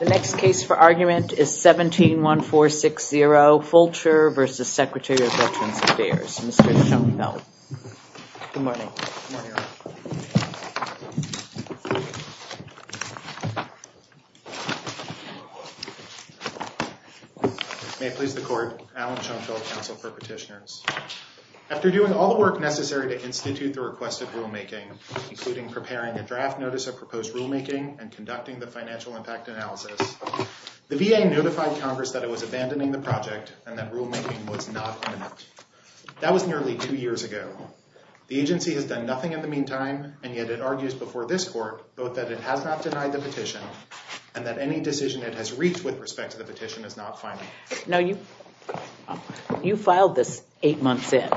The next case for argument is 17-1460 Fulcher v. Secretary of Veterans Affairs. Mr. Schoenfeld. Good morning. May it please the court, Alan Schoenfeld, counsel for petitioners. After doing all the work necessary to institute the requested rulemaking, including preparing a draft notice of proposed rulemaking and conducting the financial impact analysis, the VA notified Congress that it was abandoning the project and that rulemaking was not imminent. That was nearly two years ago. The agency has done nothing in the meantime, and yet it argues before this court both that it has not denied the petition and that any decision it has reached with respect to the petition is not final. Now you filed this eight months in,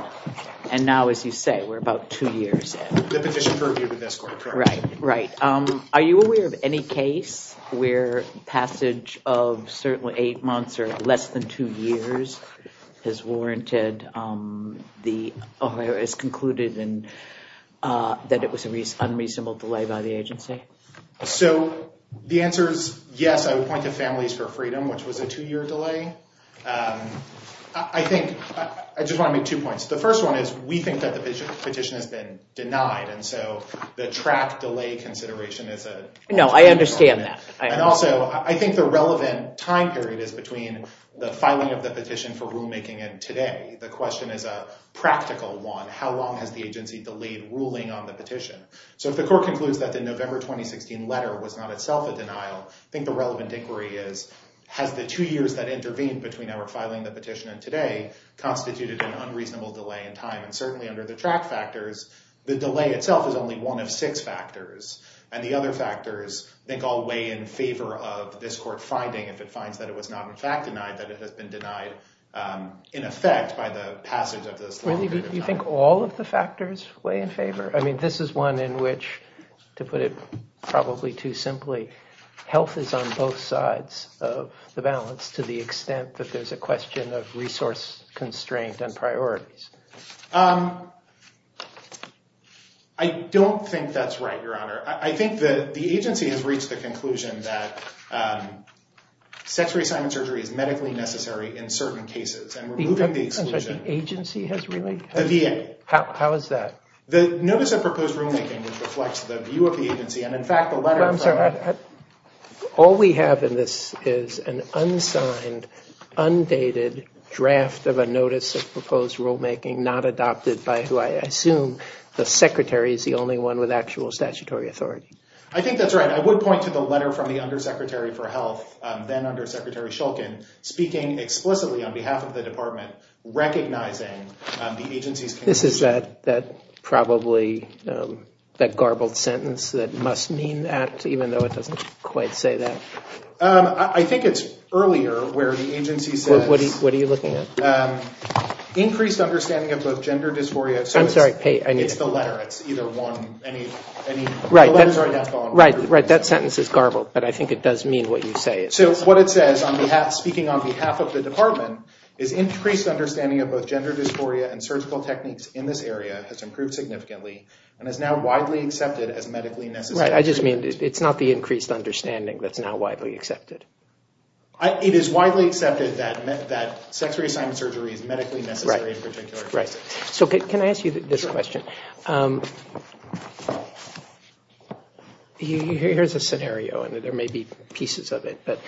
and now, as you say, we're about two years in. The petition previewed with this court, correct? Right, right. Are you aware of any case where passage of certainly eight months or less than two years has warranted, has concluded that it was an unreasonable delay by the agency? So the answer is yes. I would point to Families for Freedom, which was a two-year delay. I think, I just want to make two points. The first one is we think that the petition has been denied, and so the track delay consideration is a... No, I understand that. And also, I think the relevant time period is between the filing of the petition for rulemaking and today. The question is a practical one. How long has the agency delayed ruling on the petition? So if the court concludes that the November 2016 letter was not itself a denial, I think the relevant inquiry is, has the two years that intervened between our filing the petition and today constituted an unreasonable delay in time? And certainly under the track factors, the delay itself is only one of six factors. And the other factors, I think, all weigh in favor of this court finding, if it finds that it was not in fact denied, that it has been denied in effect by the passage of this... Really, do you think all of the factors weigh in favor? I mean, this is one in which, to put it probably too simply, health is on both sides of the balance to the extent that there's a question of resource constraint and priorities. I don't think that's right, Your Honor. I think that the agency has reached the conclusion that sex reassignment surgery is medically necessary in certain cases, and we're moving the exclusion. The agency has really? The VA. How is that? The notice of proposed rulemaking, which reflects the view of the agency, and in fact, the letter... I'm sorry. All we have in this is an unsigned, undated draft of a notice of proposed rulemaking not adopted by who I assume the secretary is the only one with actual statutory authority. I think that's right. I would point to the letter from the Undersecretary for Health, then Undersecretary Shulkin, speaking explicitly on behalf of the department, recognizing the agency's... This is that probably garbled sentence that must mean that, even though it doesn't quite say that. I think it's earlier where the agency says... What are you looking at? Increased understanding of both gender dysphoria... I'm sorry. It's the letter. It's either one. Right. That sentence is garbled, but I think it does mean what you say. So what it says, speaking on behalf of the department, is increased understanding of both gender dysphoria and surgical techniques in this area has improved significantly and is now widely accepted as medically necessary. Right. I just mean it's not the increased understanding that's now widely accepted. It is widely accepted that sex reassignment surgery is medically necessary in a particular case. So can I ask you this question? Here's a scenario, and there may be pieces of it, but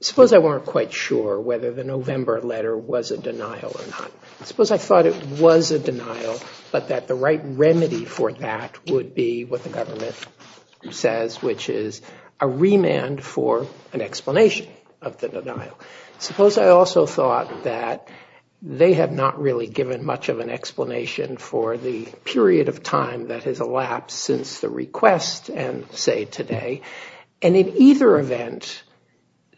suppose I weren't quite sure whether the November letter was a denial or not. Suppose I thought it was a denial, but that the right remedy for that would be what the government says, which is a remand for an explanation of the denial. Suppose I also thought that they have not really given much of an explanation for the period of time that has elapsed since the request and say today. And in either event,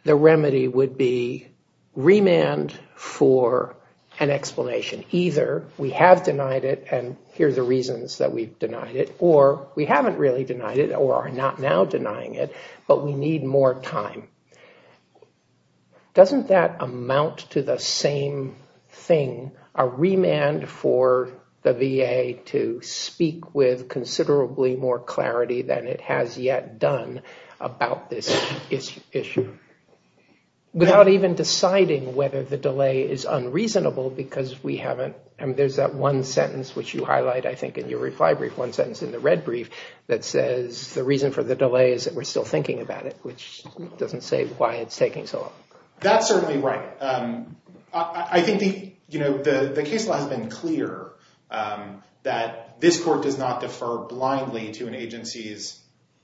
the remedy would be remand for an explanation. Either we have denied it, and here's the reasons that we've denied it, or we haven't really denied it or are not now denying it, but we need more time. Doesn't that amount to the same thing, a remand for the VA to speak with considerably more clarity than it has yet done about this issue? Without even deciding whether the delay is unreasonable because we haven't. There's that one sentence which you highlight, I think, in your reply brief, one sentence in the red brief that says the reason for the delay is that we're still thinking about it, which doesn't say why it's taking so long. That's certainly right. I think the case law has been clear that this court does not defer blindly to an agency's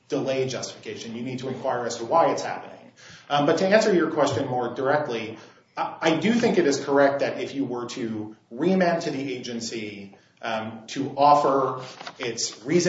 delay justification. You need to inquire as to why it's happening. But to answer your question more directly, I do think it is correct that if you were to reasoned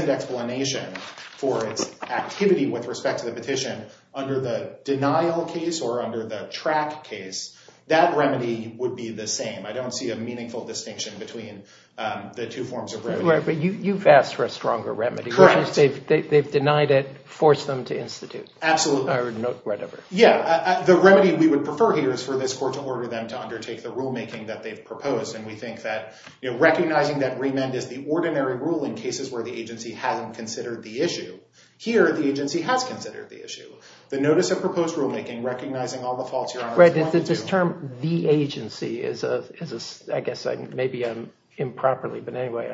explanation for its activity with respect to the petition under the denial case or under the track case, that remedy would be the same. I don't see a meaningful distinction between the two forms of remedy. But you've asked for a stronger remedy, which is they've denied it, forced them to institute. Absolutely. Or whatever. Yeah. The remedy we would prefer here is for this court to order them to undertake the rule making that they've proposed, and we think that recognizing that remand is the ordinary rule in cases where the agency hasn't considered the issue. Here, the agency has considered the issue. The notice of proposed rulemaking, recognizing all the faults, Your Honor. Right. This term, the agency, I guess maybe I'm improperly. But anyway,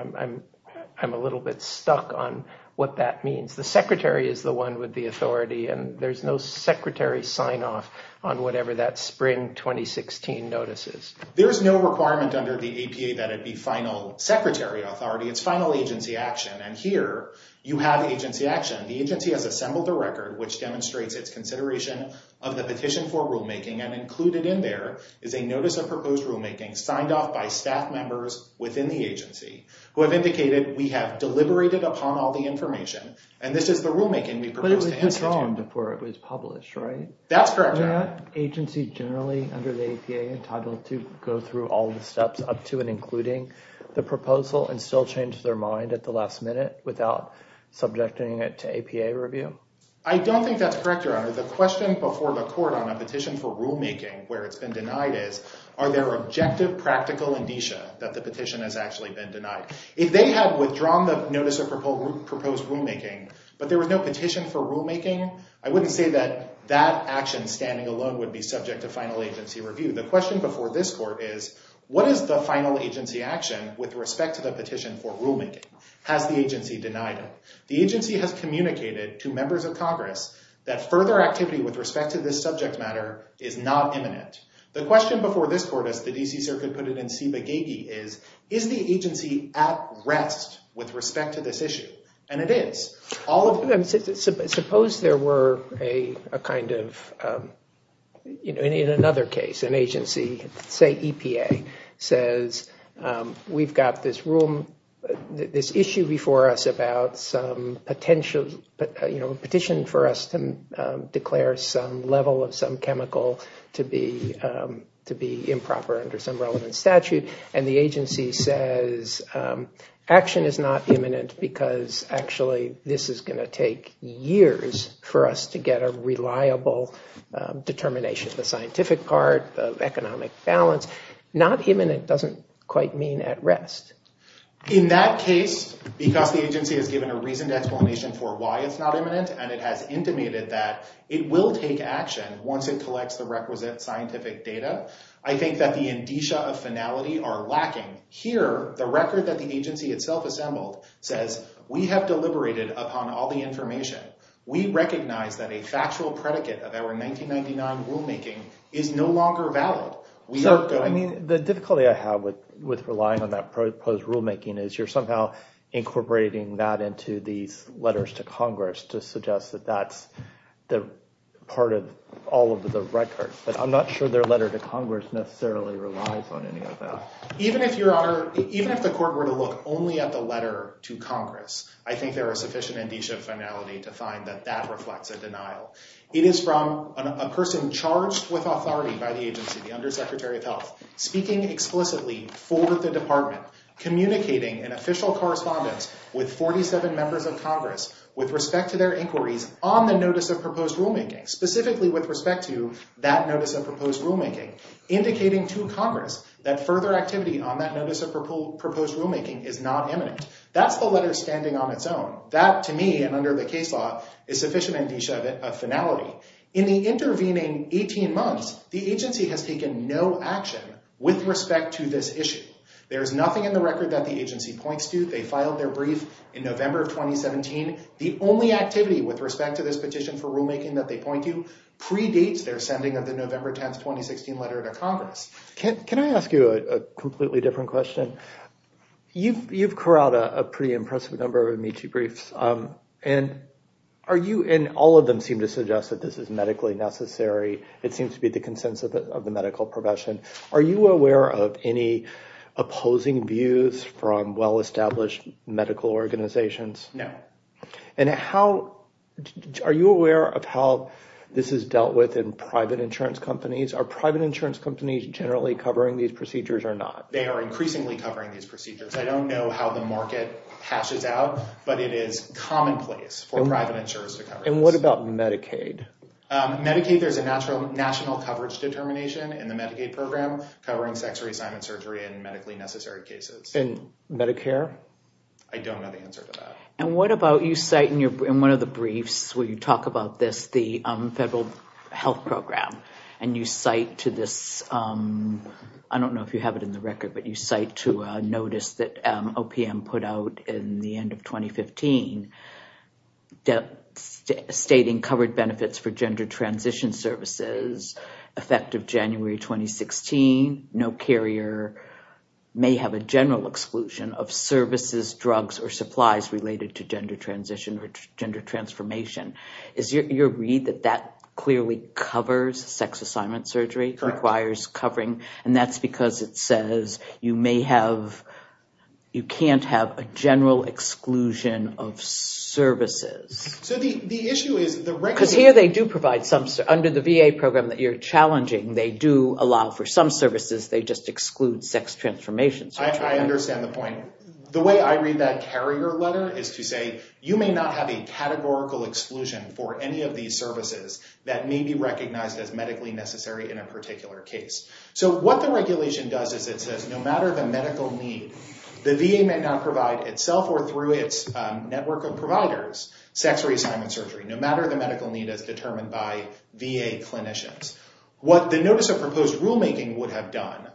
I'm a little bit stuck on what that means. The secretary is the one with the authority, and there's no secretary sign-off on whatever that spring 2016 notice is. There is no requirement under the APA that it be final secretary authority. It's final agency action. And here, you have agency action. The agency has assembled the record, which demonstrates its consideration of the petition for rulemaking, and included in there is a notice of proposed rulemaking signed off by staff members within the agency, who have indicated we have deliberated upon all the information. And this is the rulemaking we proposed to institute. But it was withdrawn before it was published, right? That's correct, Your Honor. The proposal and still changed their mind at the last minute without subjecting it to APA review? I don't think that's correct, Your Honor. The question before the court on a petition for rulemaking where it's been denied is, are there objective practical indicia that the petition has actually been denied? If they had withdrawn the notice of proposed rulemaking, but there was no petition for rulemaking, I wouldn't say that that action standing alone would be subject to final agency review. The question before this court is, what is the final agency action with respect to the petition for rulemaking? Has the agency denied it? The agency has communicated to members of Congress that further activity with respect to this subject matter is not imminent. The question before this court, as the D.C. Circuit put it in Ciba Gagee, is, is the agency at rest with respect to this issue? And it is. Suppose there were a kind of, you know, in another case, an agency, say EPA, says, we've got this room, this issue before us about some potential, you know, petition for us to declare some level of some chemical to be improper under some relevant statute. And the agency says action is not imminent because actually this is going to take years for us to get a reliable determination. The scientific part of economic balance, not imminent doesn't quite mean at rest. In that case, because the agency has given a reasoned explanation for why it's not imminent, and it has intimated that it will take action once it collects the requisite scientific data, I think that the indicia of finality are lacking. Here, the record that the agency itself assembled says we have deliberated upon all the information. We recognize that a factual predicate of our 1999 rulemaking is no longer valid. We are going- I mean, the difficulty I have with relying on that proposed rulemaking is you're somehow incorporating that into these letters to Congress to suggest that that's the part of all of the record. But I'm not sure their letter to Congress necessarily relies on any of that. Even if, Your Honor, even if the court were to look only at the letter to Congress, I think there are sufficient indicia of finality to find that that reflects a denial. It is from a person charged with authority by the agency, the Undersecretary of Health, speaking explicitly for the department, communicating an official correspondence with 47 members of Congress with respect to their inquiries on the notice of proposed rulemaking, specifically with respect to that notice of proposed rulemaking, indicating to Congress that further activity on that notice of proposed rulemaking is not imminent. That's the letter standing on its own. That, to me, and under the case law, is sufficient indicia of finality. In the intervening 18 months, the agency has taken no action with respect to this issue. There is nothing in the record that the agency points to. They filed their brief in November of 2017. The only activity with respect to this petition for rulemaking that they point to predates their sending of the November 10, 2016 letter to Congress. Can I ask you a completely different question? You've carried out a pretty impressive number of amici briefs. All of them seem to suggest that this is medically necessary. It seems to be the consensus of the medical profession. Are you aware of any opposing views from well-established medical organizations? No. Are you aware of how this is dealt with in private insurance companies? Are private insurance companies generally covering these procedures or not? They are increasingly covering these procedures. I don't know how the market hashes out, but it is commonplace for private insurers to cover this. What about Medicaid? Medicaid, there's a national coverage determination in the Medicaid program covering sex reassignment surgery and medically necessary cases. And Medicare? I don't know the answer to that. You cite in one of the briefs where you talk about this, the federal health program, and you cite to this, I don't know if you have it in the record, but you cite to a notice that OPM put out in the end of 2015, stating covered benefits for gender transition services effective January 2016, no carrier may have a general exclusion of services, drugs, or supplies related to gender transition or gender transformation. Is your read that that clearly covers sex assignment surgery, requires covering? And that's because it says you may have, you can't have a general exclusion of services. So the issue is the record... Because here they do provide some, under the VA program that you're challenging, they do allow for some services, they just exclude sex transformation. So I understand the point. The way I read that carrier letter is to say, you may not have a categorical exclusion for any of these services that may be recognized as medically necessary in a particular case. So what the regulation does is it says no matter the medical need, the VA may not provide itself or through its network of providers, sex reassignment surgery, no matter the medical need as determined by VA clinicians. What the notice of proposed rulemaking would have done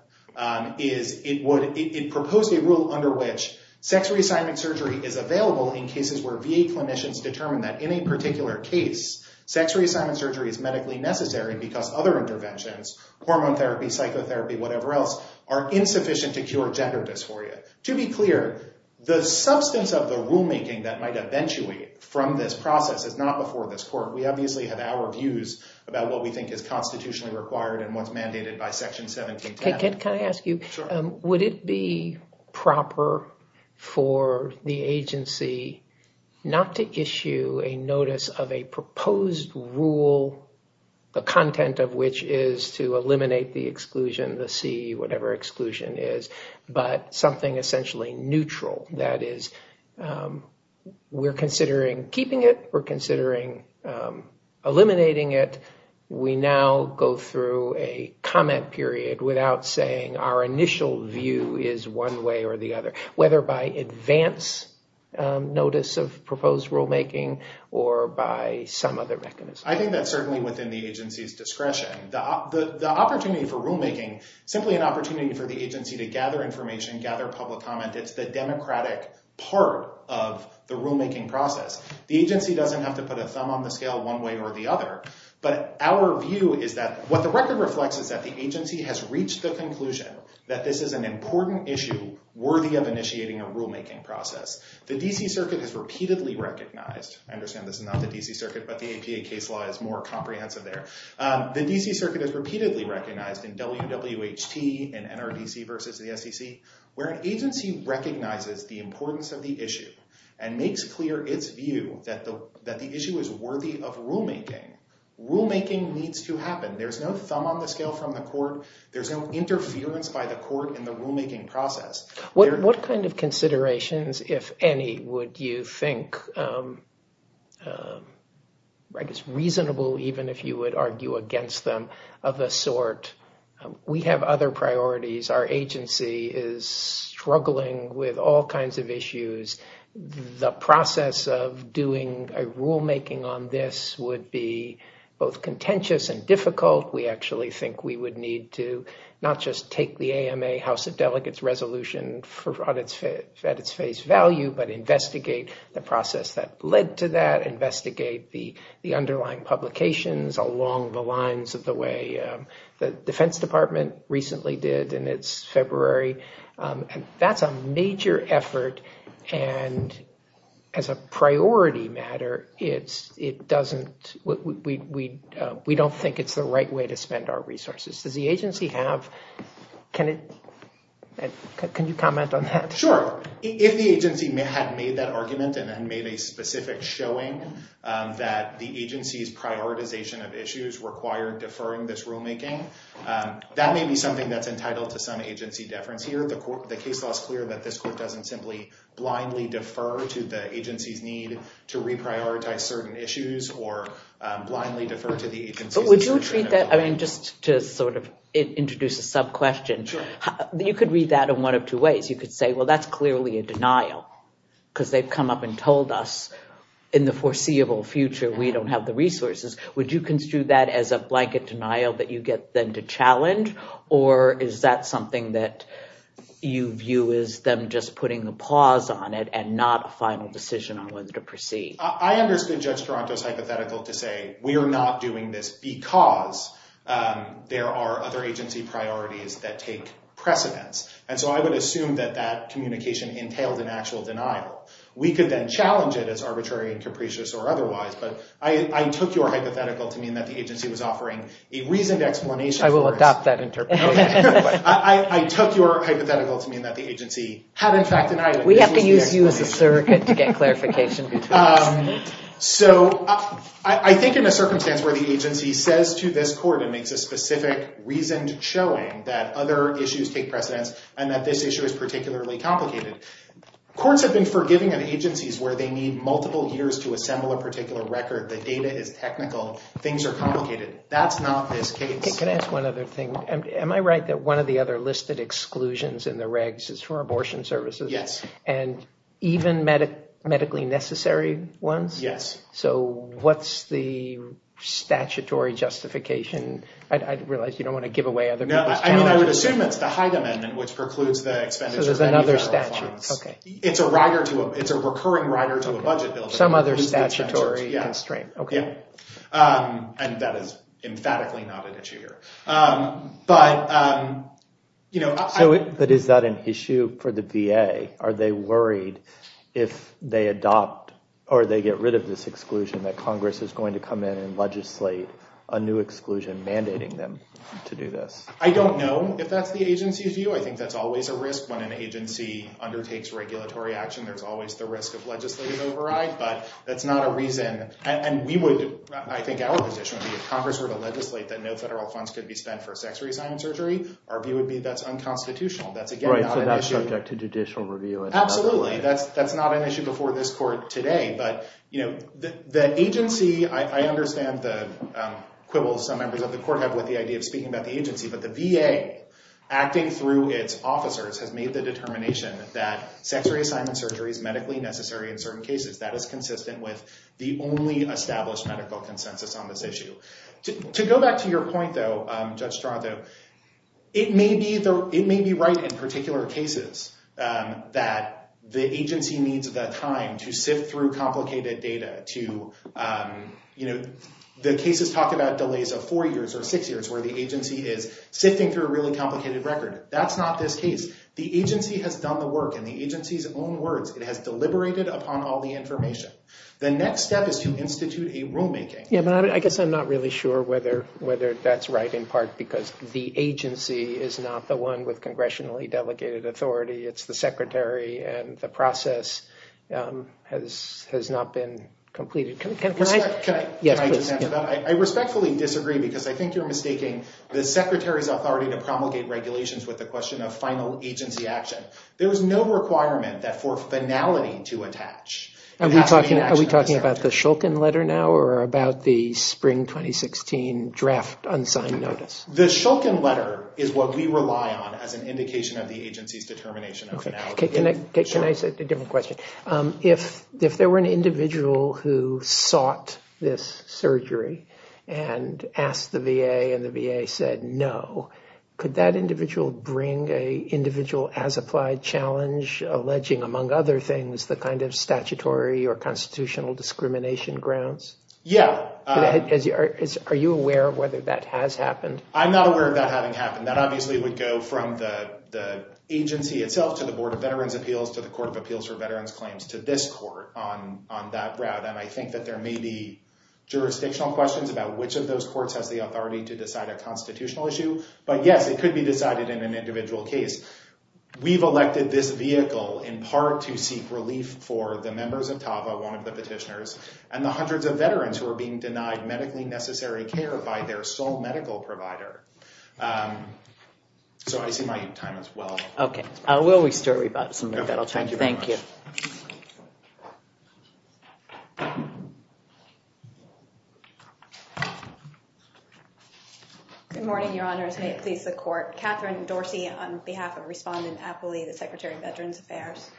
is it proposed a rule under which sex reassignment surgery is available in cases where VA clinicians determine that in a particular case, sex reassignment surgery is medically necessary because other interventions, hormone therapy, psychotherapy, whatever else, are insufficient to cure gender dysphoria. To be clear, the substance of the rulemaking that might eventuate from this process is not before this court. We obviously have our views about what we think is constitutionally required and what's mandated by Section 1710. Can I ask you, would it be proper for the agency not to issue a notice of a proposed rule, the content of which is to eliminate the exclusion, the C, whatever exclusion is, but something essentially neutral, that is we're considering keeping it, we're considering eliminating it, we now go through a comment period without saying our initial view is one way or the other, whether by advance notice of proposed rulemaking or by some other mechanism? I think that's certainly within the agency's discretion. The opportunity for rulemaking, simply an opportunity for the agency to gather information, gather public comment, it's the democratic part of the rulemaking process. The agency doesn't have to put a thumb on the scale one way or the other, but our view is that what the record reflects is that the agency has reached the conclusion that this is an important issue worthy of initiating a rulemaking process. The D.C. Circuit has repeatedly recognized, I understand this is not the D.C. Circuit, but the APA case law is more comprehensive there. The D.C. Circuit has repeatedly recognized in WWHT and NRDC versus the SEC, where an agency recognizes the importance of the issue and makes clear its view that the issue is worthy of rulemaking, rulemaking needs to happen. There's no thumb on the scale from the court. There's no interference by the court in the rulemaking process. What kind of considerations, if any, would you think reasonable even if you would argue against them of the sort? We have other priorities. Our agency is struggling with all kinds of issues. The process of doing a rulemaking on this would be both contentious and difficult. We actually think we would need to not just take the AMA House of Delegates resolution at its face value, but investigate the process that led to that, investigate the underlying publications along the lines of the way the Defense Department recently did in its February. That's a major effort, and as a priority matter, we don't think it's the right way to spend our resources. Can you comment on that? Sure. If the agency had made that argument and then made a specific showing that the agency's prioritization of issues required deferring this rulemaking, that may be something that's entitled to some agency deference here. The case law is clear that this court doesn't simply blindly defer to the agency's need to reprioritize certain issues or blindly defer to the agency. Would you treat that, I mean, just to sort of introduce a sub-question, you could read that in one of two ways. You could say, well, that's clearly a denial because they've come up and told us in the foreseeable future we don't have the resources. Would you construe that as a blanket denial that you get them to challenge, or is that something that you view as them just putting a pause on it and not a final decision on whether to proceed? I understood Judge Taranto's hypothetical to say we are not doing this because there are other agency priorities that take precedence, and so I would assume that that communication entailed an actual denial. We could then challenge it as arbitrary and capricious or otherwise, but I took your hypothetical to mean that the agency was offering a reasoned explanation. I will adopt that interpretation. I took your hypothetical to mean that the agency had in fact denied it. We have to use you as a surrogate to get clarification. So I think in a circumstance where the agency says to this court and makes a specific reasoned showing that other issues take precedence and that this issue is particularly complicated, courts have been forgiving of agencies where they need multiple years to assemble a particular record. The data is technical. Things are complicated. That's not this case. Can I ask one other thing? Am I right that one of the other listed exclusions in the regs is for abortion services? Yes. And even medically necessary ones? Yes. So what's the statutory justification? I realize you don't want to give away other people's channels. I mean, I would assume it's the Hyde Amendment, which precludes the expenditure of any federal funds. So there's another statute. Okay. It's a recurring rider to a budget bill. Some other statutory constraint. Okay. And that is emphatically not an issue here. But, you know... So is that an issue for the VA? Are they worried if they adopt or they get rid of this exclusion that Congress is going to come in and legislate a new exclusion mandating them to do this? I don't know if that's the agency's view. I think that's always a risk. When an agency undertakes regulatory action, there's always the risk of legislative override. But that's not a reason... And we would... I think our position would be if Congress were to legislate that no federal funds could be spent for sex reassignment surgery, our view would be that's unconstitutional. That's, again, not an issue. Right. So that's subject to judicial review. Absolutely. That's not an issue before this court today. But, you know, the agency... I understand the quibbles some members of the court have with the idea of speaking about the agency. But the VA, acting through its officers, has made the determination that sex reassignment surgery is medically necessary in certain cases. That is consistent with the only established medical consensus on this issue. To go back to your point, though, Judge Strato, it may be right in particular cases that the agency needs the time to sift through complicated data to... The cases talk about delays of four years or six years where the agency is sifting through a really complicated record. That's not this case. The agency has done the work in the agency's own words. It has deliberated upon all the information. The next step is to institute a rulemaking. Yeah, but I guess I'm not really sure whether that's right, in part because the agency is not the one with congressionally delegated authority. It's the secretary and the process has not been completed. Can I just answer that? I respectfully disagree because I think you're mistaking the secretary's authority to promulgate regulations with the question of final agency action. There is no requirement that for finality to attach. Are we talking about the Shulkin letter now or about the spring 2016 draft unsigned notice? The Shulkin letter is what we rely on as an indication of the agency's determination of finality. Okay, can I ask a different question? If there were an individual who sought this surgery and asked the VA and the VA said no, could that individual bring a individual as applied challenge alleging, among other things, the kind of statutory or constitutional discrimination grounds? Yeah. Are you aware of whether that has happened? I'm not aware of that having happened. That obviously would go from the agency itself to the Board of Veterans' Appeals to the Court of Appeals for Veterans' Claims to this court on that route. And I think that there may be jurisdictional questions about which of those courts has the authority to decide a constitutional issue. But yes, it could be decided in an individual case. We've elected this vehicle in part to seek relief for the members of TAVA, one of the petitioners, and the hundreds of veterans who are being denied medically necessary care by their sole medical provider. So I see my time as well. OK. Will we start? We've got some more time. Thank you. Good morning, Your Honors. May it please the Court. Catherine Dorsey on behalf of Respondent Apley, the Secretary of Veterans Affairs.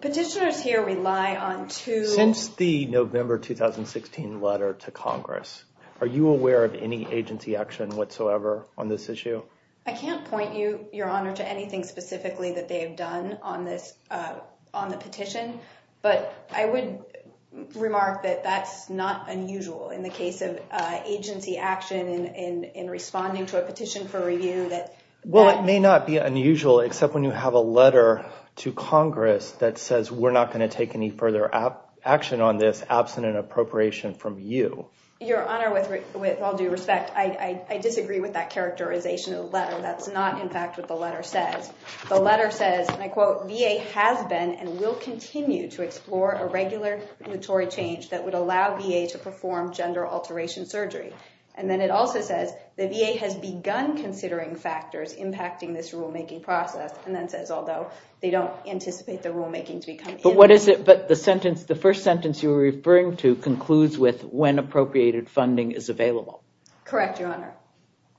Petitioners here rely on two- Since the November 2016 letter to Congress, are you aware of any agency action whatsoever on this issue? I can't point you, Your Honor, to anything specifically that they have done on the petition. But I would remark that that's not unusual in the case of agency action in responding to a petition for review that- Well, it may not be unusual, except when you have a letter to Congress that says we're not going to take any further action on this absent an appropriation from you. Your Honor, with all due respect, I disagree with that characterization. That's not, in fact, what the letter says. The letter says, and I quote, VA has been and will continue to explore a regular regulatory change that would allow VA to perform gender alteration surgery. And then it also says the VA has begun considering factors impacting this rulemaking process. And then says, although they don't anticipate the rulemaking to become- But what is it? But the sentence, the first sentence you were referring to concludes with when appropriated funding is available. Correct, Your Honor.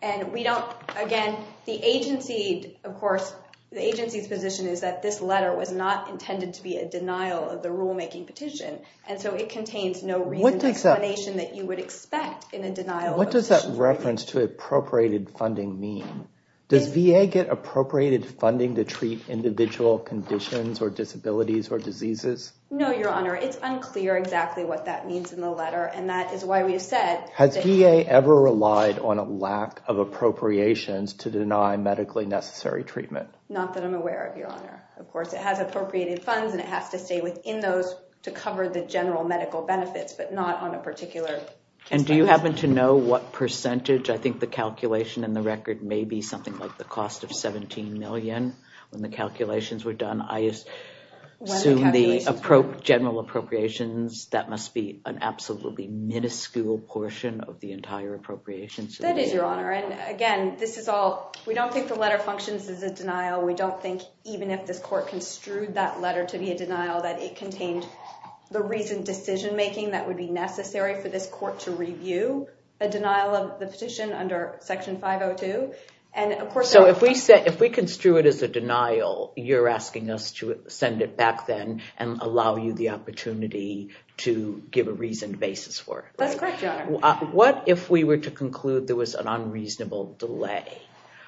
And we don't, again, the agency, of course, the agency's position is that this letter was not intended to be a denial of the rulemaking petition. And so it contains no reason- What does that- Explanation that you would expect in a denial of a petition- What does that reference to appropriated funding mean? Does VA get appropriated funding to treat individual conditions or disabilities or diseases? No, Your Honor, it's unclear exactly what that means in the letter. And that is why we have said- Has VA ever relied on a lack of appropriations to deny medically necessary treatment? Not that I'm aware of, Your Honor. Of course, it has appropriated funds and it has to stay within those to cover the general medical benefits, but not on a particular- And do you happen to know what percentage? I think the calculation in the record may be something like the cost of $17 million when the calculations were done. I assume the general appropriations, that must be an absolutely minuscule portion of the entire appropriations. That is, Your Honor. And again, this is all- We don't think the letter functions as a denial. We don't think even if this court construed that letter to be a denial, that it contained the reasoned decision-making that would be necessary for this court to review a denial of the petition under Section 502. And of course- So if we construed it as a denial, you're asking us to send it back then and allow you the opportunity to give a reasoned basis for it. That's correct, Your Honor. What if we were to conclude there was an unreasonable delay?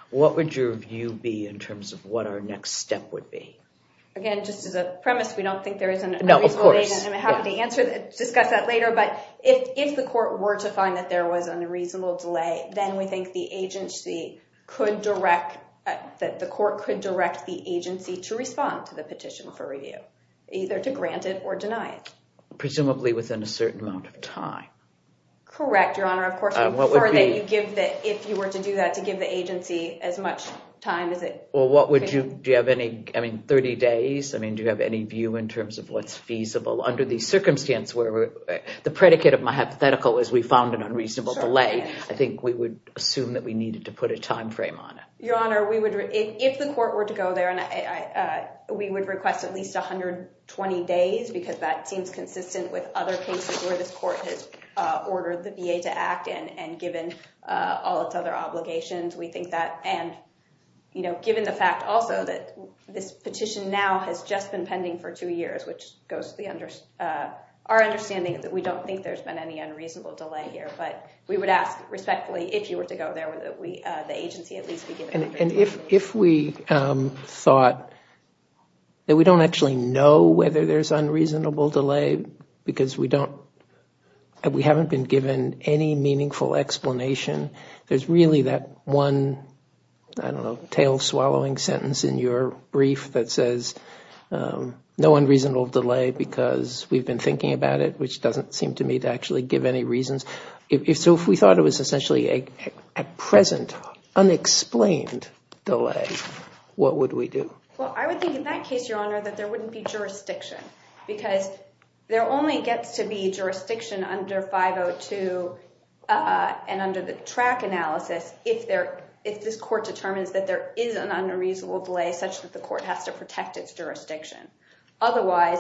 What would your view be in terms of what our next step would be? Again, just as a premise, we don't think there is an unreasonable- No, of course. I'm happy to discuss that later, but if the court were to find that there was an unreasonable delay, then we think the agency could direct, that the court could direct the agency to respond to the petition for review, either to grant it or deny it. Presumably within a certain amount of time. Correct, Your Honor. Of course, if you were to do that, to give the agency as much time as it- Well, what would you, do you have any, I mean, 30 days? I mean, do you have any view in terms of what's feasible under these circumstances where the predicate of my hypothetical is we found an unreasonable delay? I think we would assume that we needed to put a timeframe on it. Your Honor, if the court were to go there and we would request at least 120 days because that seems consistent with other cases where this court ordered the VA to act and given all its other obligations, we think that, and given the fact also that this petition now has just been pending for two years, which goes to our understanding that we don't think there's been any unreasonable delay here, but we would ask respectfully if you were to go there would the agency at least be given- And if we thought that we don't actually know whether there's unreasonable delay because we haven't been given any meaningful explanation, there's really that one, I don't know, tail swallowing sentence in your brief that says no unreasonable delay because we've been thinking about it, which doesn't seem to me to actually give any reasons. So if we thought it was essentially a present unexplained delay, what would we do? Well, I would think in that case, Your Honor, that there wouldn't be jurisdiction because there only gets to be jurisdiction under 502 and under the track analysis if this court determines that there is an unreasonable delay such that the court has to protect its jurisdiction. Otherwise,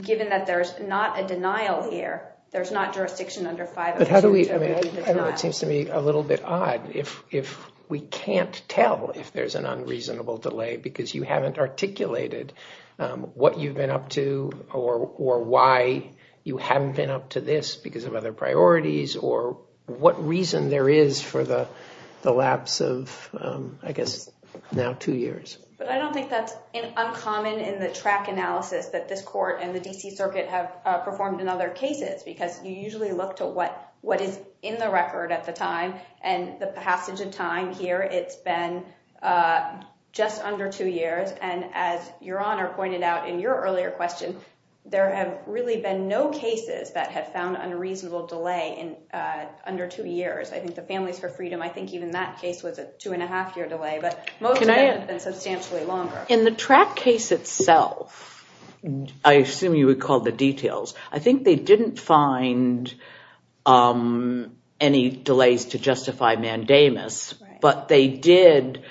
given that there's not a denial here, there's not jurisdiction under 502- But how do we, I mean, I know it seems to me a little bit odd if we can't tell if there's an unreasonable delay because you haven't articulated what you've been up to or why you haven't been up to this because of other priorities or what reason there is for the lapse of, I guess, now two years. But I don't think that's uncommon in the track analysis that this court and the D.C. Circuit have performed in other cases because you usually look to what is in the record at the time and the passage of time here, it's been just under two years and as Your Honor pointed out in your earlier question, there have really been no cases that have found unreasonable delay in under two years. I think the Families for Freedom, I think even that case was a two and a half year delay, but most of them have been substantially longer. In the track case itself, I assume you recall the details, I think they didn't find any delays to justify mandamus, but they did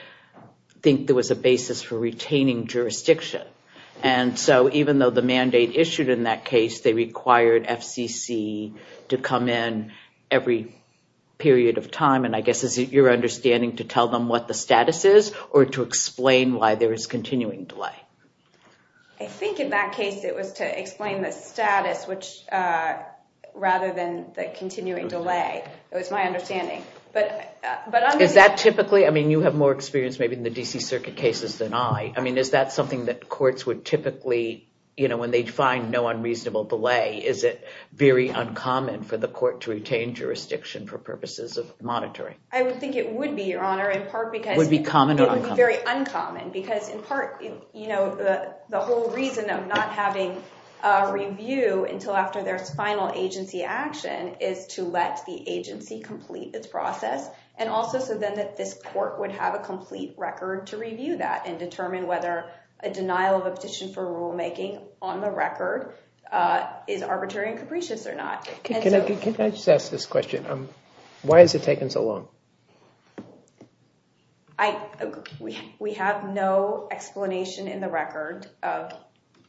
think there was a basis for retaining jurisdiction. And so even though the mandate issued in that case, they required FCC to come in every period of time and I guess is it your understanding to tell them what the status is or to explain why there is continuing delay? I think in that case it was to explain the status rather than the continuing delay, it was my understanding. Is that typically, I mean you have more experience in the DC circuit cases than I, I mean is that something that courts would typically, when they find no unreasonable delay, is it very uncommon for the court to retain jurisdiction for purposes of monitoring? I would think it would be, Your Honor, in part because- Would be common or uncommon? It would be very uncommon because in part, the whole reason of not having a review until after their final agency action is to let the agency complete its process and also so then that this court would have a complete record to review that and determine whether a denial of a petition for rulemaking on the record is arbitrary and capricious or not. Can I just ask this question? Why has it taken so long? We have no explanation in the record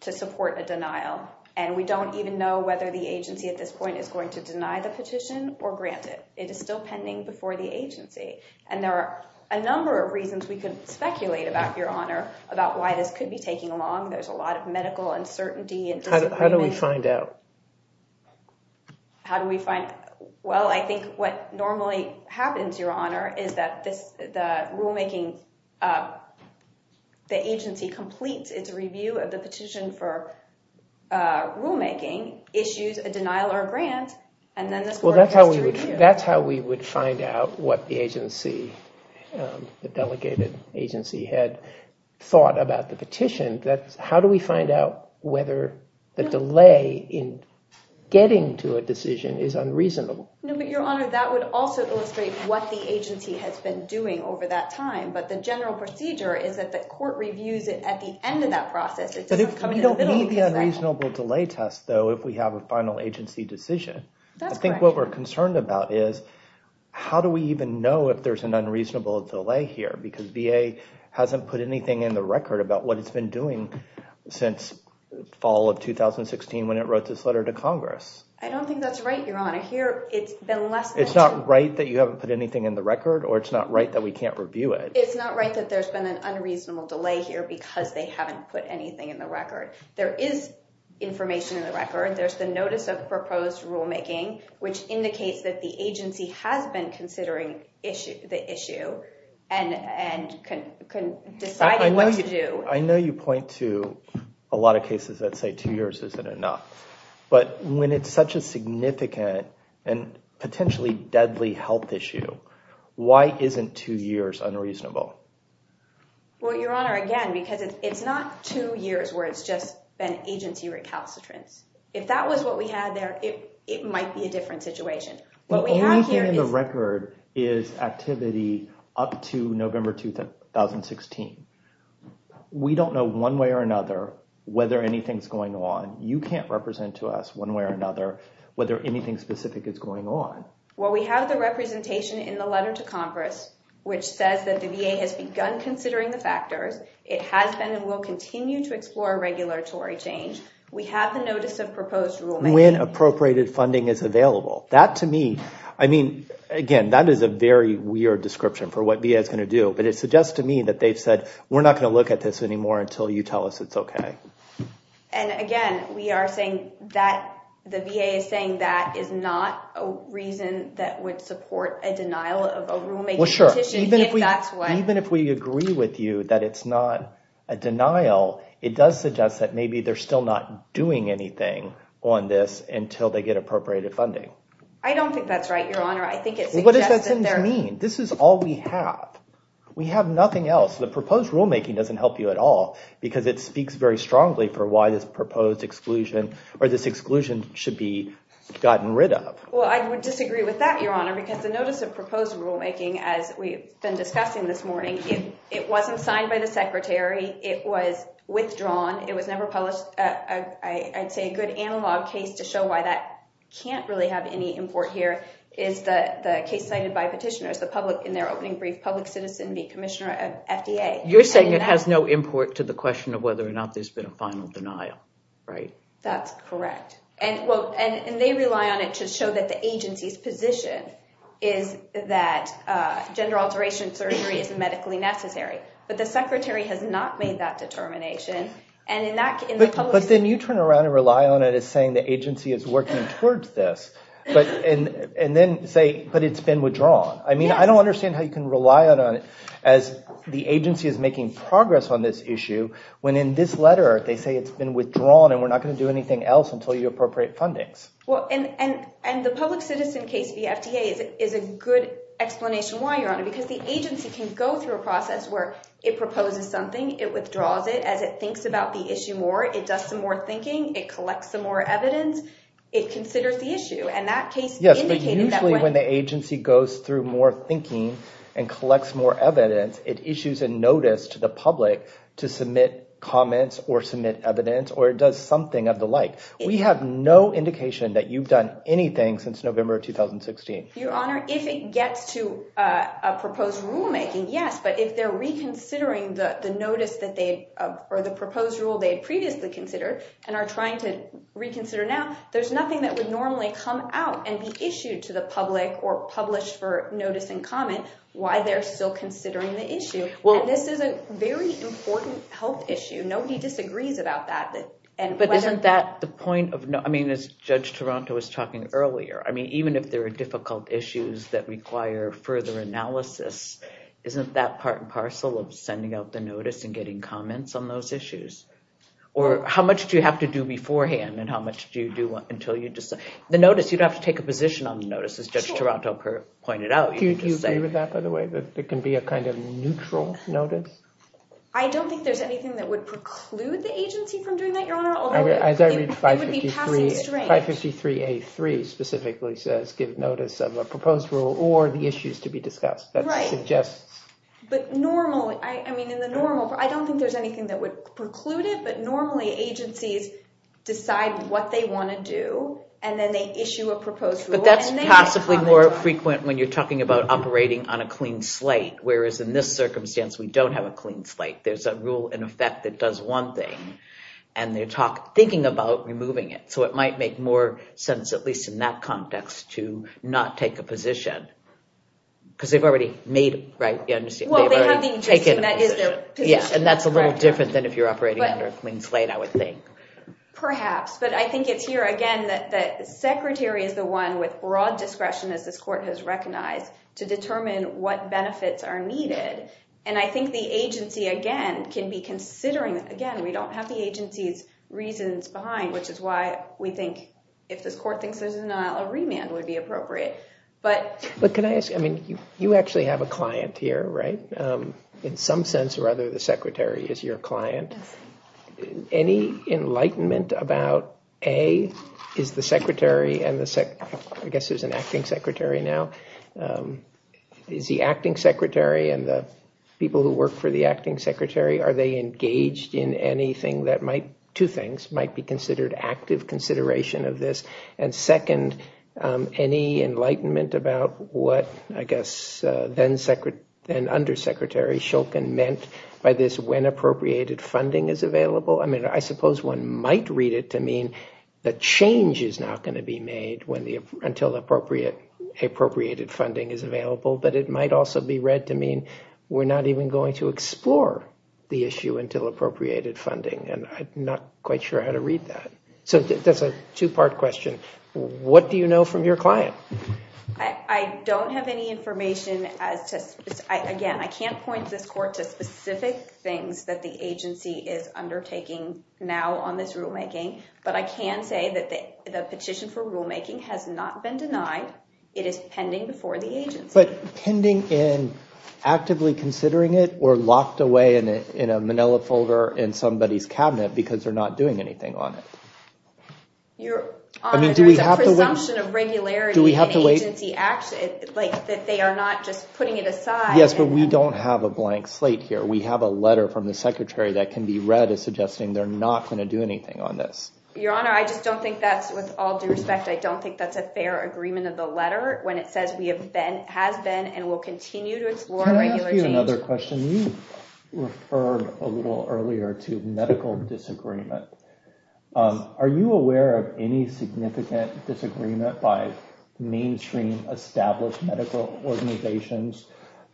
to support a denial and we don't even know whether the agency at this point is going to deny the petition or grant it. It is still pending before the agency and there are a number of reasons we could speculate about, Your Honor, about why this could be taking long. There's a lot of medical uncertainty. How do we find out? How do we find out? Well, I think what normally happens, Your Honor, is that the agency completes its review of the petition for rulemaking, issues a denial or a grant, and then this court has to review. That's how we would find out what the agency, the delegated agency, had thought about the petition. How do we find out whether the delay in getting to a decision is unreasonable? No, but Your Honor, that would also illustrate what the agency has been doing over that time. But the general procedure is that the court reviews it at the end of that process. It doesn't come in the middle. We don't need the unreasonable delay test, though, if we have a final agency decision. That's correct. I think what we're concerned about is how do we even know if there's an unreasonable delay here? Because VA hasn't put anything in the record about what it's been doing since fall of 2016 when it wrote this letter to Congress. I don't think that's right, Your Honor. Here, it's been less than... It's not right that you haven't put anything in the record or it's not right that we can't review it. It's not right that there's been an unreasonable delay here because they haven't put anything in the record. There is information in the record. There's the notice of proposed rulemaking, which indicates that the agency has been considering the issue and decided what to do. I know you point to a lot of cases that say two years isn't enough, but when it's such a significant and potentially deadly health issue, why isn't two years unreasonable? Well, Your Honor, again, because it's not two years where it's just been agency recalcitrance. If that was what we had there, it might be a different situation. The only thing in the record is activity up to November 2016. We don't know one way or another whether anything's going on. You can't represent to us one way or another whether anything specific is going on. Well, we have the representation in the letter to Congress, which says that the VA has begun considering the factors. It has been and will continue to explore regulatory change. We have the notice of proposed rulemaking. When appropriated funding is available, that to me, I mean, again, that is a very weird description for what VA is going to do, but it suggests to me that they've said, we're not going to look at this anymore until you tell us it's okay. And again, we are saying that the VA is saying that is not a reason that would support a denial of a rulemaking petition, if that's what. Even if we agree with you that it's not a denial, it does suggest that maybe they're still not doing anything on this until they get appropriated funding. I don't think that's right, Your Honor. I think it's- What does that mean? This is all we have. We have nothing else. The proposed rulemaking doesn't help you at all because it speaks very strongly for why this proposed exclusion or this exclusion should be gotten rid of. Well, I would disagree with that, Your Honor, because the notice of proposed rulemaking, as we've been discussing this morning, it wasn't signed by the secretary. It was withdrawn. It was never published. I'd say a good analog case to show why that can't really have any import here is the case cited by petitioners, the public, in their opening brief, public citizen being commissioner of FDA. You're saying it has no import to the question of whether or not there's been a final denial, right? That's correct. And they rely on it to show that the agency's position is that gender alteration surgery isn't medically necessary. But the secretary has not made that determination. But then you turn around and rely on it as saying the agency is working towards this, and then say, but it's been withdrawn. I mean, I don't understand how you can rely on it as the agency is making progress on this issue when in this letter they say it's been withdrawn and we're not going to do anything else until you appropriate fundings. Well, and the public citizen case via FDA is a good explanation why, Your Honor, because the agency can go through a process where it proposes something, it withdraws it, as it thinks about the issue more, it does some more thinking, it collects some more evidence, it considers the issue. And that case indicated that when- Yes, but usually when the agency goes through more thinking and collects more evidence, it issues a notice to the public to submit comments or submit evidence, or it does something of the like. We have no indication that you've done anything since November of 2016. Your Honor, if it gets to a proposed rulemaking, yes, but if they're reconsidering the notice that they- or the proposed rule they had previously considered and are trying to reconsider now, there's nothing that would normally come out and be issued to the public or published for notice and comment why they're still considering the issue. And this is a very important health issue. Nobody disagrees about that. But isn't that the point of- I mean, as Judge Toronto was talking earlier, I mean, even if there are difficult issues that require further analysis, isn't that part and parcel of sending out the notice and getting comments on those issues? Or how much do you have to do beforehand and how much do you do until you decide? The notice, you'd have to take a position on the notice, as Judge Toronto pointed out. Do you agree with that, by the way, that it can be a kind of neutral notice? I don't think there's anything that would preclude the agency from doing that, Your Honor, although it would be passing string. 553A3 specifically says give notice of a proposed rule or the issues to be discussed. Right. But normally, I mean, in the normal- I don't think there's anything that would preclude it, but normally agencies decide what they want to do and then they issue a proposed rule. But that's possibly more frequent when you're talking about operating on a clean slate, whereas in this circumstance, we don't have a clean slate. There's a rule in effect that does one thing and they're thinking about removing it. So it might make more sense, at least in that context, to not take a position because they've already made it, right? You understand? Well, they have the injustice and that is their position. Yes, and that's a little different than if you're operating under a clean slate, I would think. Perhaps, but I think it's here, again, that the secretary is the one with broad discretion, as this court has recognized, to determine what benefits are needed. And I think the agency, again, can be considering, again, we don't have the agency's reasons behind, which is why we think if this court thinks there's a remand would be appropriate. But can I ask, I mean, you actually have a client here, right? In some sense or other, the secretary is your client. Any enlightenment about, A, is the secretary and the sec... I guess there's an acting secretary now. Is the acting secretary and the people who work for the acting secretary, are they engaged in anything that might, two things, might be considered active consideration of this. And second, any enlightenment about what, I guess, then-secretary and undersecretary Shulkin meant by this, when appropriated funding is available. I mean, I suppose one might read it to mean that change is not going to be made when the, until appropriate, appropriated funding is available. But it might also be read to mean we're not even going to explore the issue until appropriated funding. And I'm not quite sure how to read that. That's a two-part question. What do you know from your client? I don't have any information as to... Again, I can't point this court to specific things that the agency is undertaking now on this rulemaking. But I can say that the petition for rulemaking has not been denied. It is pending before the agency. But pending in actively considering it or locked away in a manila folder in somebody's cabinet because they're not doing anything on it? Your Honor, there is a presumption of regularity in agency action, like that they are not just putting it aside. Yes, but we don't have a blank slate here. We have a letter from the secretary that can be read as suggesting they're not going to do anything on this. Your Honor, I just don't think that's with all due respect. I don't think that's a fair agreement of the letter when it says we have been, has been, and will continue to explore regular change. Can I ask you another question? You referred a little earlier to medical disagreement. Are you aware of any significant disagreement by mainstream established medical organizations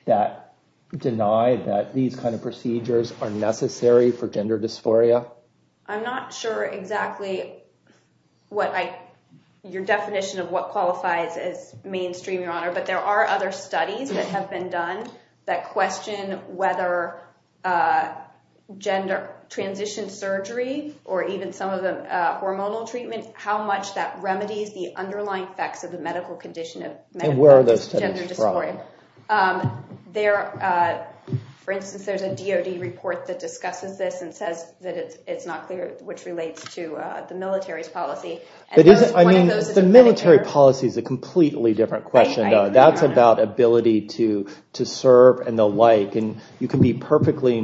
that deny that these kind of procedures are necessary for gender dysphoria? I'm not sure exactly what I, your definition of what qualifies as mainstream, Your Honor. But there are other studies that have been done that question whether gender transition surgery or even some of the hormonal treatment, how much that remedies the underlying effects of the medical condition of gender dysphoria. And where are those studies from? For instance, there's a DOD report that discusses this and says that it's not clear, which relates to the military's policy. The military policy is a completely different question. That's about ability to serve and the like. And you can be perfectly,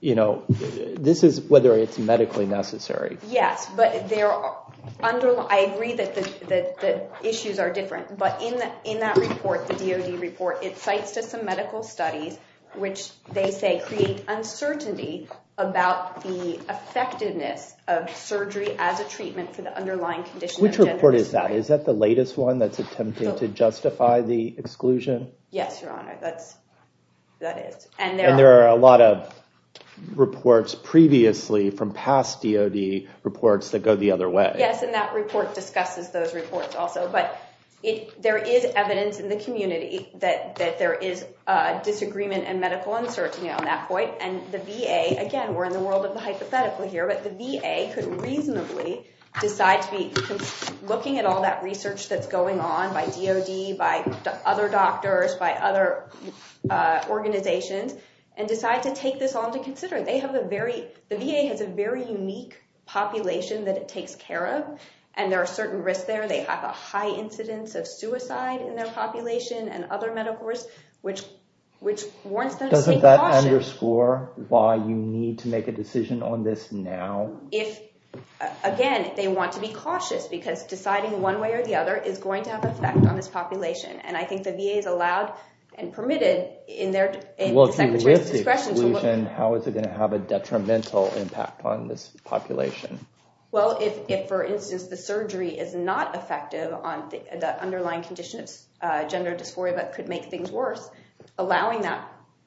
you know, this is whether it's medically necessary. Yes, but I agree that the issues are different. But in that report, the DOD report, it cites to some medical studies, which they say create uncertainty about the effectiveness of surgery as a treatment for the underlying condition of gender dysphoria. Which report is that? Is that the latest one the exclusion? Yes, Your Honor, that is. And there are a lot of reports previously from past DOD reports that go the other way. Yes, and that report discusses those reports also. But there is evidence in the community that there is a disagreement in medical uncertainty on that point. And the VA, again, we're in the world of the hypothetical here, but the VA could reasonably decide to be looking at all that research that's going on by DOD, by other doctors, by other organizations, and decide to take this on to consider. The VA has a very unique population that it takes care of, and there are certain risks there. They have a high incidence of suicide in their population and other medical risks, which warrants them to be cautious. Doesn't that underscore why you need to make a decision on this now? If, again, they want to be cautious because deciding one way or the other is going to have an effect on this population. And I think the VA is allowed and permitted in their discretion. How is it going to have a detrimental impact on this population? Well, if, for instance, the surgery is not effective on the underlying conditions, gender dysphoria, that could make things worse, allowing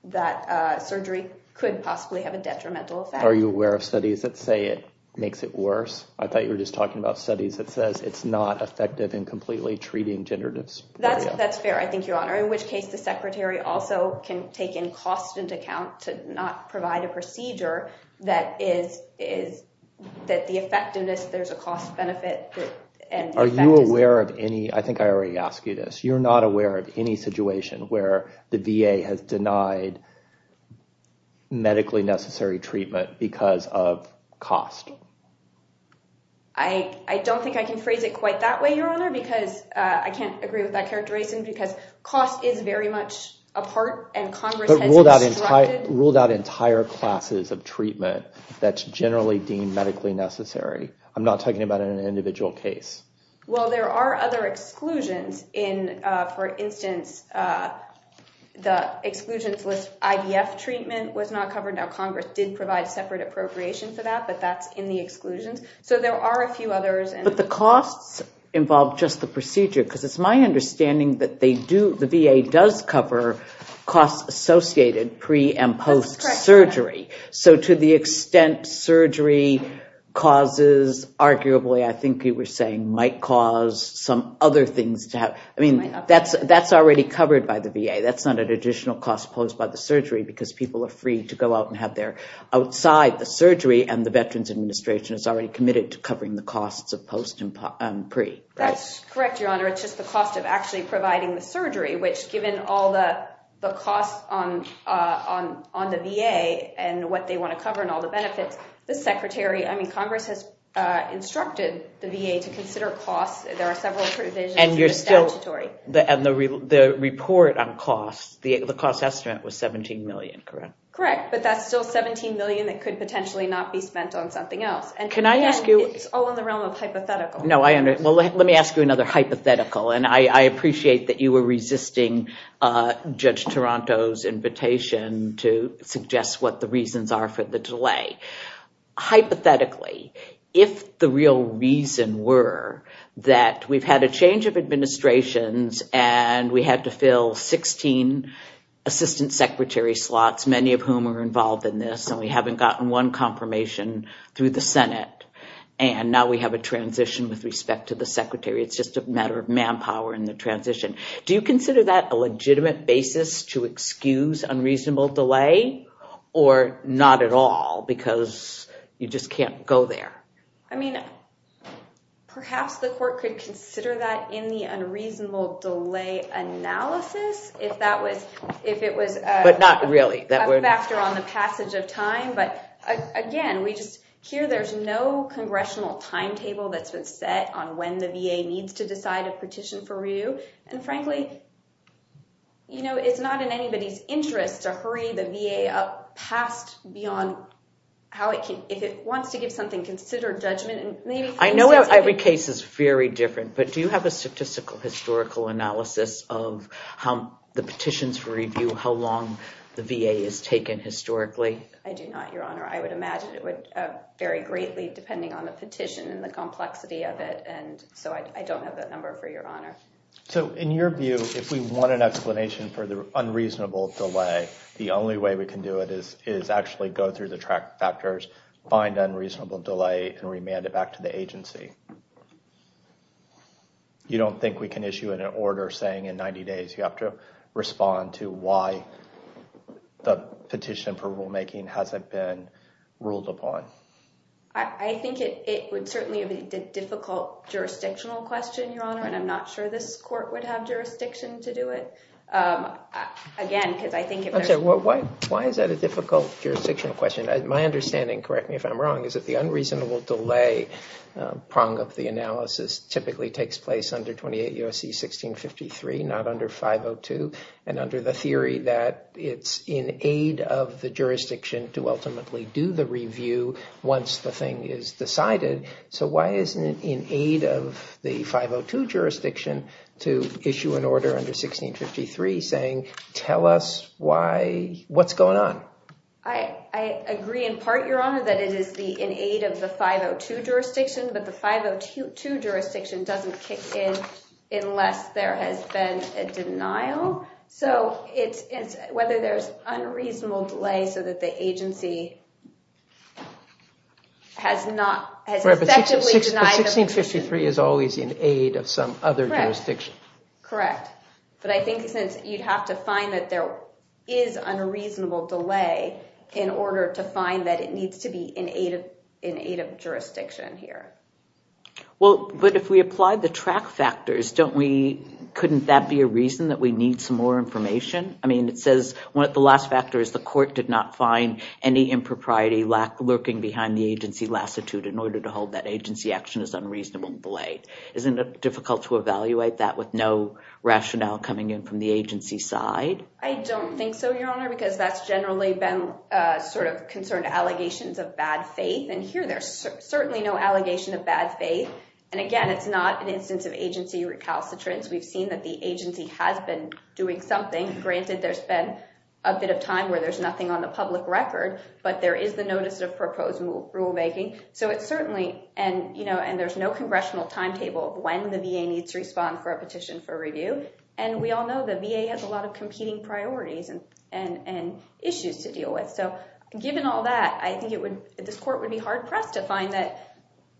that surgery could possibly have a detrimental effect. Are you aware of studies that say it makes it worse? I thought you were just talking about studies that says it's not effective in completely treating gender dysphoria. That's fair, I think, Your Honor, in which case the secretary also can take in constant account to not provide a procedure that is that the effectiveness, there's a cost benefit. Are you aware of any, I think I already asked you this, you're not aware of any situation where the VA has denied medically necessary treatment because of cost? I don't think I can phrase it quite that way, Your Honor, because I can't agree with that characterization because cost is very much a part and Congress has instructed. Ruled out entire classes of treatment that's generally deemed medically necessary. I'm not talking about an individual case. Well, there are other exclusions in, for instance, the exclusions list, IVF treatment was not covered. Now, Congress did provide separate appropriation for that, but that's in the exclusions. So there are a few others. But the costs involve just the procedure because it's my understanding that they do, the VA does cover costs associated pre and post surgery. So to the extent surgery causes, arguably, I think you were saying, might cause some other things to happen. I mean, that's already covered by the VA. That's not an additional cost posed by the surgery because people are free to go out and have their outside the surgery and the Veterans Administration is already committed to covering the costs of post and pre. That's correct, Your Honor. It's just the cost of actually providing the surgery, which given all the costs on the VA and what they want to cover and all the benefits, the Secretary, I mean, Congress has instructed the VA to consider costs. There are several provisions. And you're still, and the report on costs, the cost estimate was 17 million, correct? Correct. But that's still 17 million that could potentially not be spent on something else. And can I ask you, it's all in the realm of hypothetical. No, I understand. Well, let me ask you another hypothetical. And I appreciate that you were resisting Judge Toronto's invitation to suggest what the reasons are for the delay. Hypothetically, if the real reason were that we've had a change of administrations and we had to fill 16 Assistant Secretary slots, many of whom are involved in this, and we haven't gotten one confirmation through the Senate, and now we have a transition with respect to the Secretary. It's just a matter of manpower in the transition. Do you consider that a legitimate basis to excuse unreasonable delay or not at all? Because you just can't go there. I mean, perhaps the court could consider that in the unreasonable delay analysis if that was, if it was- But not really. A factor on the passage of time. But again, we just, that's been set on when the VA needs to decide a petition for review. And frankly, it's not in anybody's interest to hurry the VA up past, beyond how it can, if it wants to give something, consider judgment and maybe- I know every case is very different, but do you have a statistical historical analysis of how the petitions for review, how long the VA is taken historically? I do not, Your Honor. I would imagine it would vary greatly depending on the petition and the complexity of it. And so I don't have that number for Your Honor. In your view, if we want an explanation for the unreasonable delay, the only way we can do it is actually go through the track factors, find unreasonable delay, and remand it back to the agency. You don't think we can issue an order saying in 90 days you have to respond to why the petition for rulemaking hasn't been ruled upon? I think it would certainly be a difficult jurisdictional question, Your Honor, and I'm not sure this court would have jurisdiction to do it again, because I think- I'm sorry, why is that a difficult jurisdictional question? My understanding, correct me if I'm wrong, is that the unreasonable delay prong of the analysis typically takes place under 28 U.S.C. 1653, not under 502, and under the theory that it's in aid of the jurisdiction to ultimately do the review once the thing is decided. So why isn't it in aid of the 502 jurisdiction to issue an order under 1653 saying tell us why- what's going on? I agree in part, Your Honor, that it is in aid of the 502 jurisdiction, but the 502 jurisdiction doesn't kick in unless there has been a denial. So whether there's unreasonable delay so that the agency has not- has effectively denied- 1653 is always in aid of some other jurisdiction. Correct, but I think since you'd have to find that there is unreasonable delay in order to find that it needs to be in aid of jurisdiction here. Well, but if we apply the track factors, don't we- couldn't that be a reason that we need some more information? I mean, it says- one of the last factors, the court did not find any impropriety lurking behind the agency lassitude in order to hold that agency action is unreasonable delay. Isn't it difficult to evaluate that with no rationale coming in from the agency side? I don't think so, Your Honor, because that's generally been sort of concerned allegations of bad faith. And here there's certainly no allegation of bad faith. And again, it's not an instance of agency recalcitrance. We've seen that the agency has been doing something. Granted, there's been a bit of time where there's nothing on the public record, but there is the notice of proposed rulemaking. So it's certainly- and, you know, and there's no congressional timetable of when the VA needs to respond for a petition for review. And we all know the VA has a lot of competing priorities and issues to deal with. So given all that, I think it would- this court would be hard pressed to find that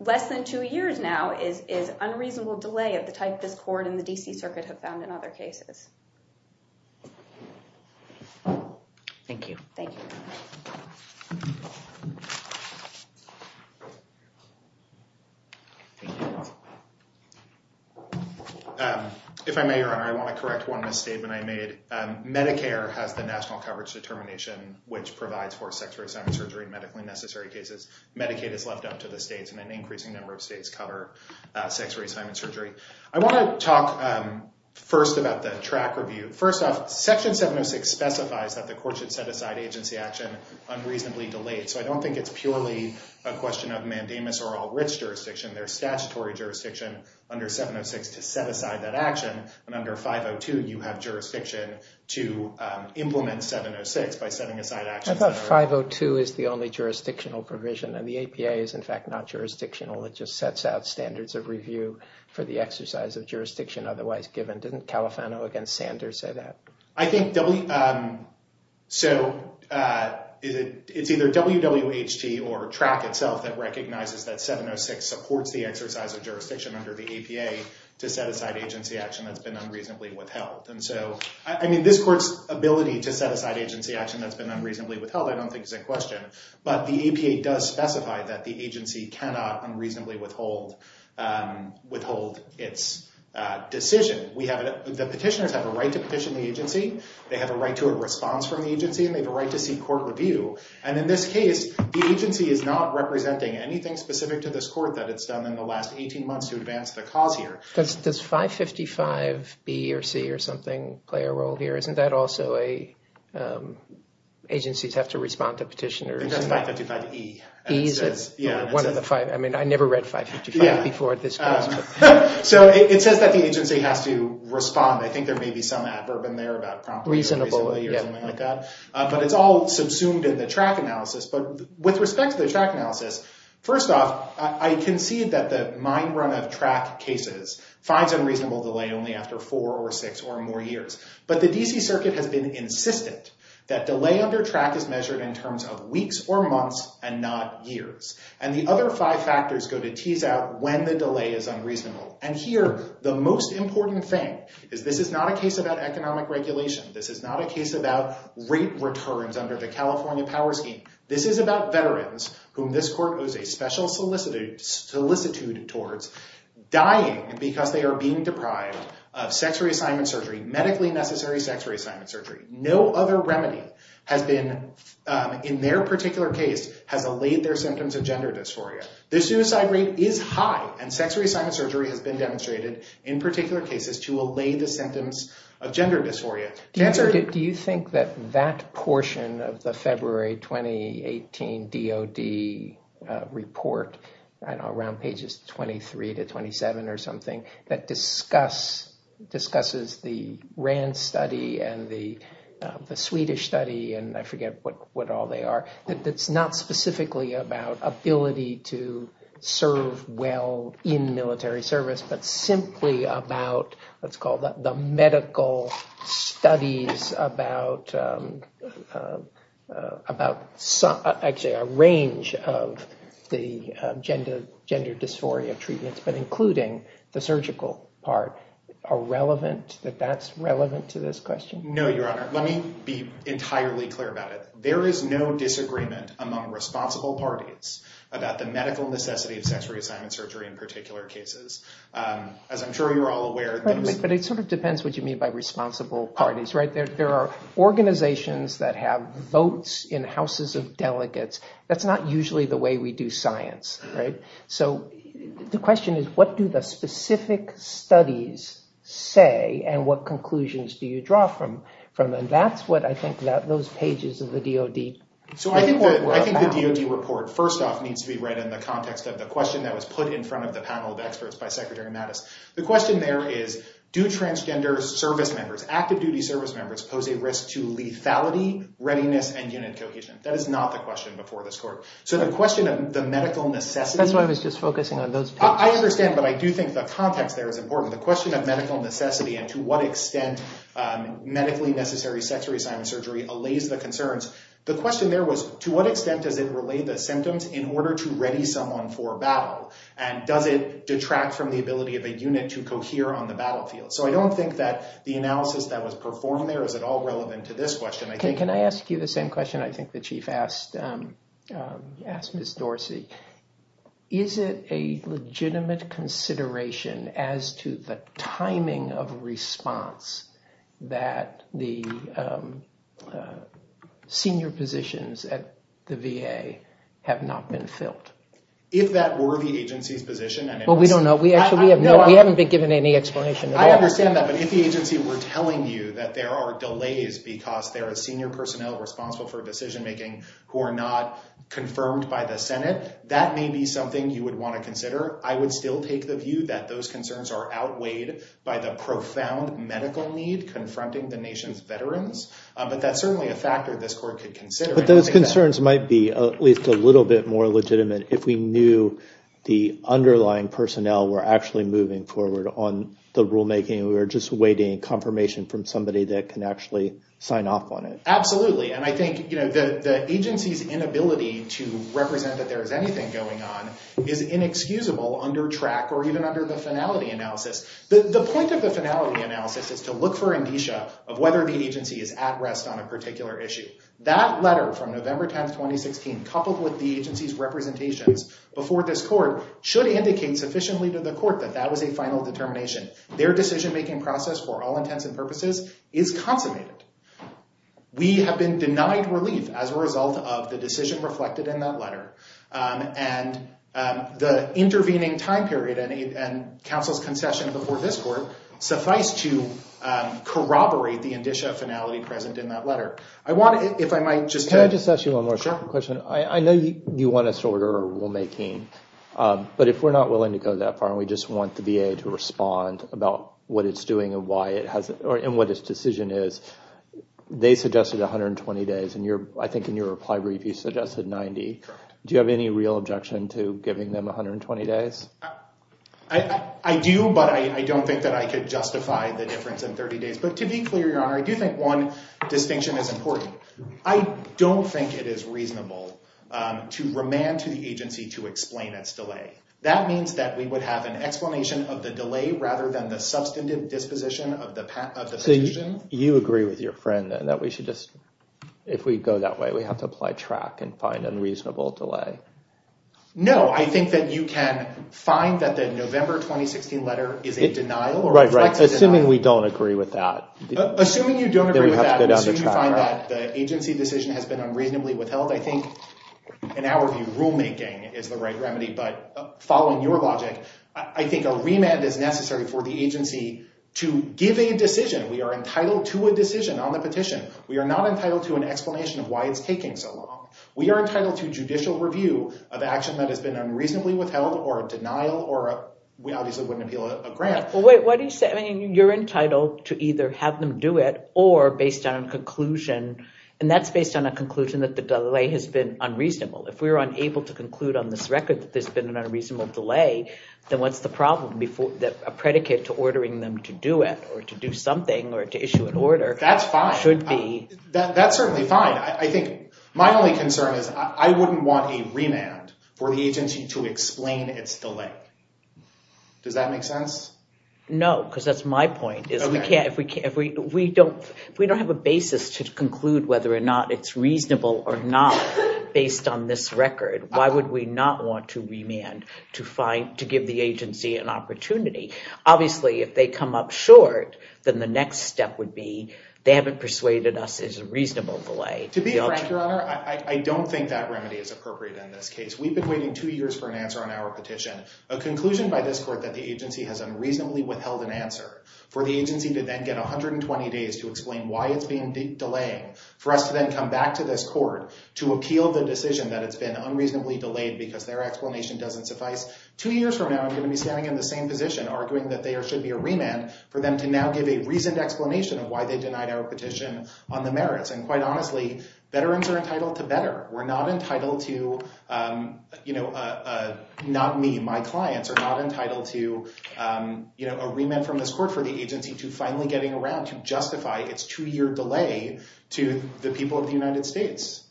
less than two years now is unreasonable delay of the type this court and the D.C. Circuit have found in other cases. Thank you. Thank you. Thank you. If I may, Your Honor, I want to correct one misstatement I made. Medicare has the national coverage determination which provides for sex reassignment surgery in medically necessary cases. Medicaid is left up to the states, and an increasing number of states cover sex reassignment surgery. I want to talk first about the track review. First off, Section 706 specifies that the court should set aside agency action unreasonably delayed. So I don't think it's purely a question of mandamus or all-rich jurisdiction. There's statutory jurisdiction under 706 to set aside that action. And under 502, you have jurisdiction to implement 706 by setting aside action- I thought 502 is the only jurisdictional provision, and the APA is, in fact, not jurisdictional. It just sets out standards of review for the exercise of jurisdiction otherwise given. Didn't Califano against Sanders say that? I think- So it's either WWHT or TRAC itself that recognizes that 706 supports the exercise of jurisdiction under the APA to set aside agency action that's been unreasonably withheld. And so, I mean, this court's ability to set aside agency action that's been unreasonably withheld, I don't think is in question. But the APA does specify that the agency cannot unreasonably withhold its decision. The petitioners have a right to petition the agency. They have a right to a response from the agency, and they have a right to seek court review. And in this case, the agency is not representing anything specific to this court that it's done in the last 18 months to advance the cause here. Does 555B or C or something play a role here? Isn't that also a- agencies have to respond to petitioners? It's just 555E. E? I mean, I never read 555 before this case. So it says that the agency has to respond. I think there may be some adverb in there about promptly or reasonably or something like that. But it's all subsumed in the TRAC analysis. But with respect to the TRAC analysis, first off, I concede that the mine run of TRAC cases finds unreasonable delay only after four or six or more years. But the D.C. Circuit has been insistent that delay under TRAC is measured in terms of weeks or months and not years. And the other five factors go to tease out when the delay is unreasonable. And here, the most important thing is this is not a case about economic regulation. This is not a case about rate returns under the California power scheme. This is about veterans whom this court owes a special solicitude towards dying because they are being deprived of sex reassignment surgery, medically necessary sex reassignment surgery. No other remedy has been, in their particular case, has allayed their symptoms of gender dysphoria. Their suicide rate is high. And sex reassignment surgery has been demonstrated in particular cases to allay the symptoms of gender dysphoria. Do you think that that portion of the February 2018 DOD report, around pages 23 to 27 or something, that discusses the RAND study and the Swedish study and I forget what all they are. It's not specifically about ability to serve well in military service, but simply about what's called the medical studies about actually a range of the gender dysphoria treatments, but including the surgical part. Are relevant, that that's relevant to this question? No, Your Honor. Let me be entirely clear about it. There is no disagreement among responsible parties about the medical necessity of sex reassignment surgery in particular cases. As I'm sure you're all aware. But it sort of depends what you mean by responsible parties, right? There are organizations that have votes in houses of delegates. That's not usually the way we do science, right? So the question is, what do the specific studies say? And what conclusions do you draw from them? That's what I think those pages of the DOD. I think the DOD report, first off, needs to be read in the context of the question that was put in front of the panel of experts by Secretary Mattis. The question there is, do transgender service members, active duty service members, pose a risk to lethality, readiness, and unit cohesion? That is not the question before this court. So the question of the medical necessity. That's why I was just focusing on those pages. I understand. But I do think the context there is important. The question of medical necessity and to what extent medically necessary sex reassignment surgery allays the concerns. The question there was, to what extent does it relay the symptoms in order to ready someone for battle? And does it detract from the ability of a unit to cohere on the battlefield? So I don't think that the analysis that was performed there is at all relevant to this question. Can I ask you the same question? I think the chief asked, asked Ms. Dorsey. Is it a legitimate consideration as to the timing of response that the senior positions at the VA have not been filled? If that were the agency's position? Well, we don't know. We actually have no, we haven't been given any explanation. I understand that. But if the agency were telling you that there are delays because there are senior personnel responsible for decision-making who are not confirmed by the Senate, that may be something you would want to consider. I would still take the view that those concerns are outweighed by the profound medical need confronting the nation's veterans. But that's certainly a factor this court could consider. But those concerns might be at least a little bit more legitimate if we knew the underlying personnel were actually moving forward on the rulemaking. We were just awaiting confirmation from somebody that can actually sign off on it. Absolutely. And I think the agency's inability to represent that there is anything going on is inexcusable under track or even under the finality analysis. The point of the finality analysis is to look for indicia of whether the agency is at rest on a particular issue. That letter from November 10th, 2016, coupled with the agency's representations before this court should indicate sufficiently to the court that that was a final determination. Their decision-making process for all intents and purposes is consummated. We have been denied relief as a result of the decision reflected in that letter. And the intervening time period and counsel's concession before this court suffice to corroborate the indicia of finality present in that letter. I want to, if I might just... Can I just ask you one more question? I know you want us to order a rulemaking, but if we're not willing to go that far and we just want the VA to respond about what it's doing and what its decision is, they suggested 120 days, and I think in your reply brief you suggested 90. Do you have any real objection to giving them 120 days? I do, but I don't think that I could justify the difference in 30 days. But to be clear, Your Honor, I do think one distinction is important. I don't think it is reasonable to remand to the agency to explain its delay. That means that we would have an explanation of the delay rather than the substantive disposition of the decision. You agree with your friend that we should just... If we go that way, we have to apply track and find unreasonable delay. No, I think that you can find that the November 2016 letter is a denial or... Right, right. Assuming we don't agree with that. Assuming you don't agree with that, and you find that the agency decision has been unreasonably withheld, I think, in our view, rulemaking is the right remedy. But following your logic, I think a remand is necessary for the agency to give a decision. We are entitled to a decision on the petition. We are not entitled to an explanation of why it's taking so long. We are entitled to judicial review of action that has been unreasonably withheld or a denial or we obviously wouldn't appeal a grant. Wait, what do you say? I mean, you're entitled to either have them do it or based on a conclusion, and that's based on a conclusion that the delay has been unreasonable. If we were unable to conclude on this record that there's been an unreasonable delay, then what's the problem that a predicate to ordering them to do it or to do something or to issue an order should be? That's fine. That's certainly fine. I think my only concern is I wouldn't want a remand for the agency to explain its delay. Does that make sense? No, because that's my point. If we don't have a basis to conclude whether or not it's reasonable or not based on this record, why would we not want to remand to give the agency an opportunity? Obviously, if they come up short, then the next step would be they haven't persuaded us it's a reasonable delay. To be frank, Your Honor, I don't think that remedy is appropriate in this case. We've been waiting two years for an answer on our petition. A conclusion by this court that the agency has unreasonably withheld an answer for the agency to then get 120 days to explain why it's been delaying for us to then come back to this court to appeal the decision that it's been unreasonably delayed because their explanation doesn't suffice. Two years from now, I'm going to be standing in the same position, arguing that there should be a remand for them to now give a reasoned explanation of why they denied our petition on the merits. And quite honestly, veterans are entitled to better. We're not entitled to, you know, not me, my clients are not entitled to a remand from this court for the agency to finally getting around to justify its two year delay to the people of the United States.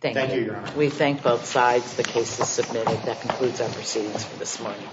Thank you, Your Honor. We thank both sides. The case is submitted. That concludes our proceedings for this morning.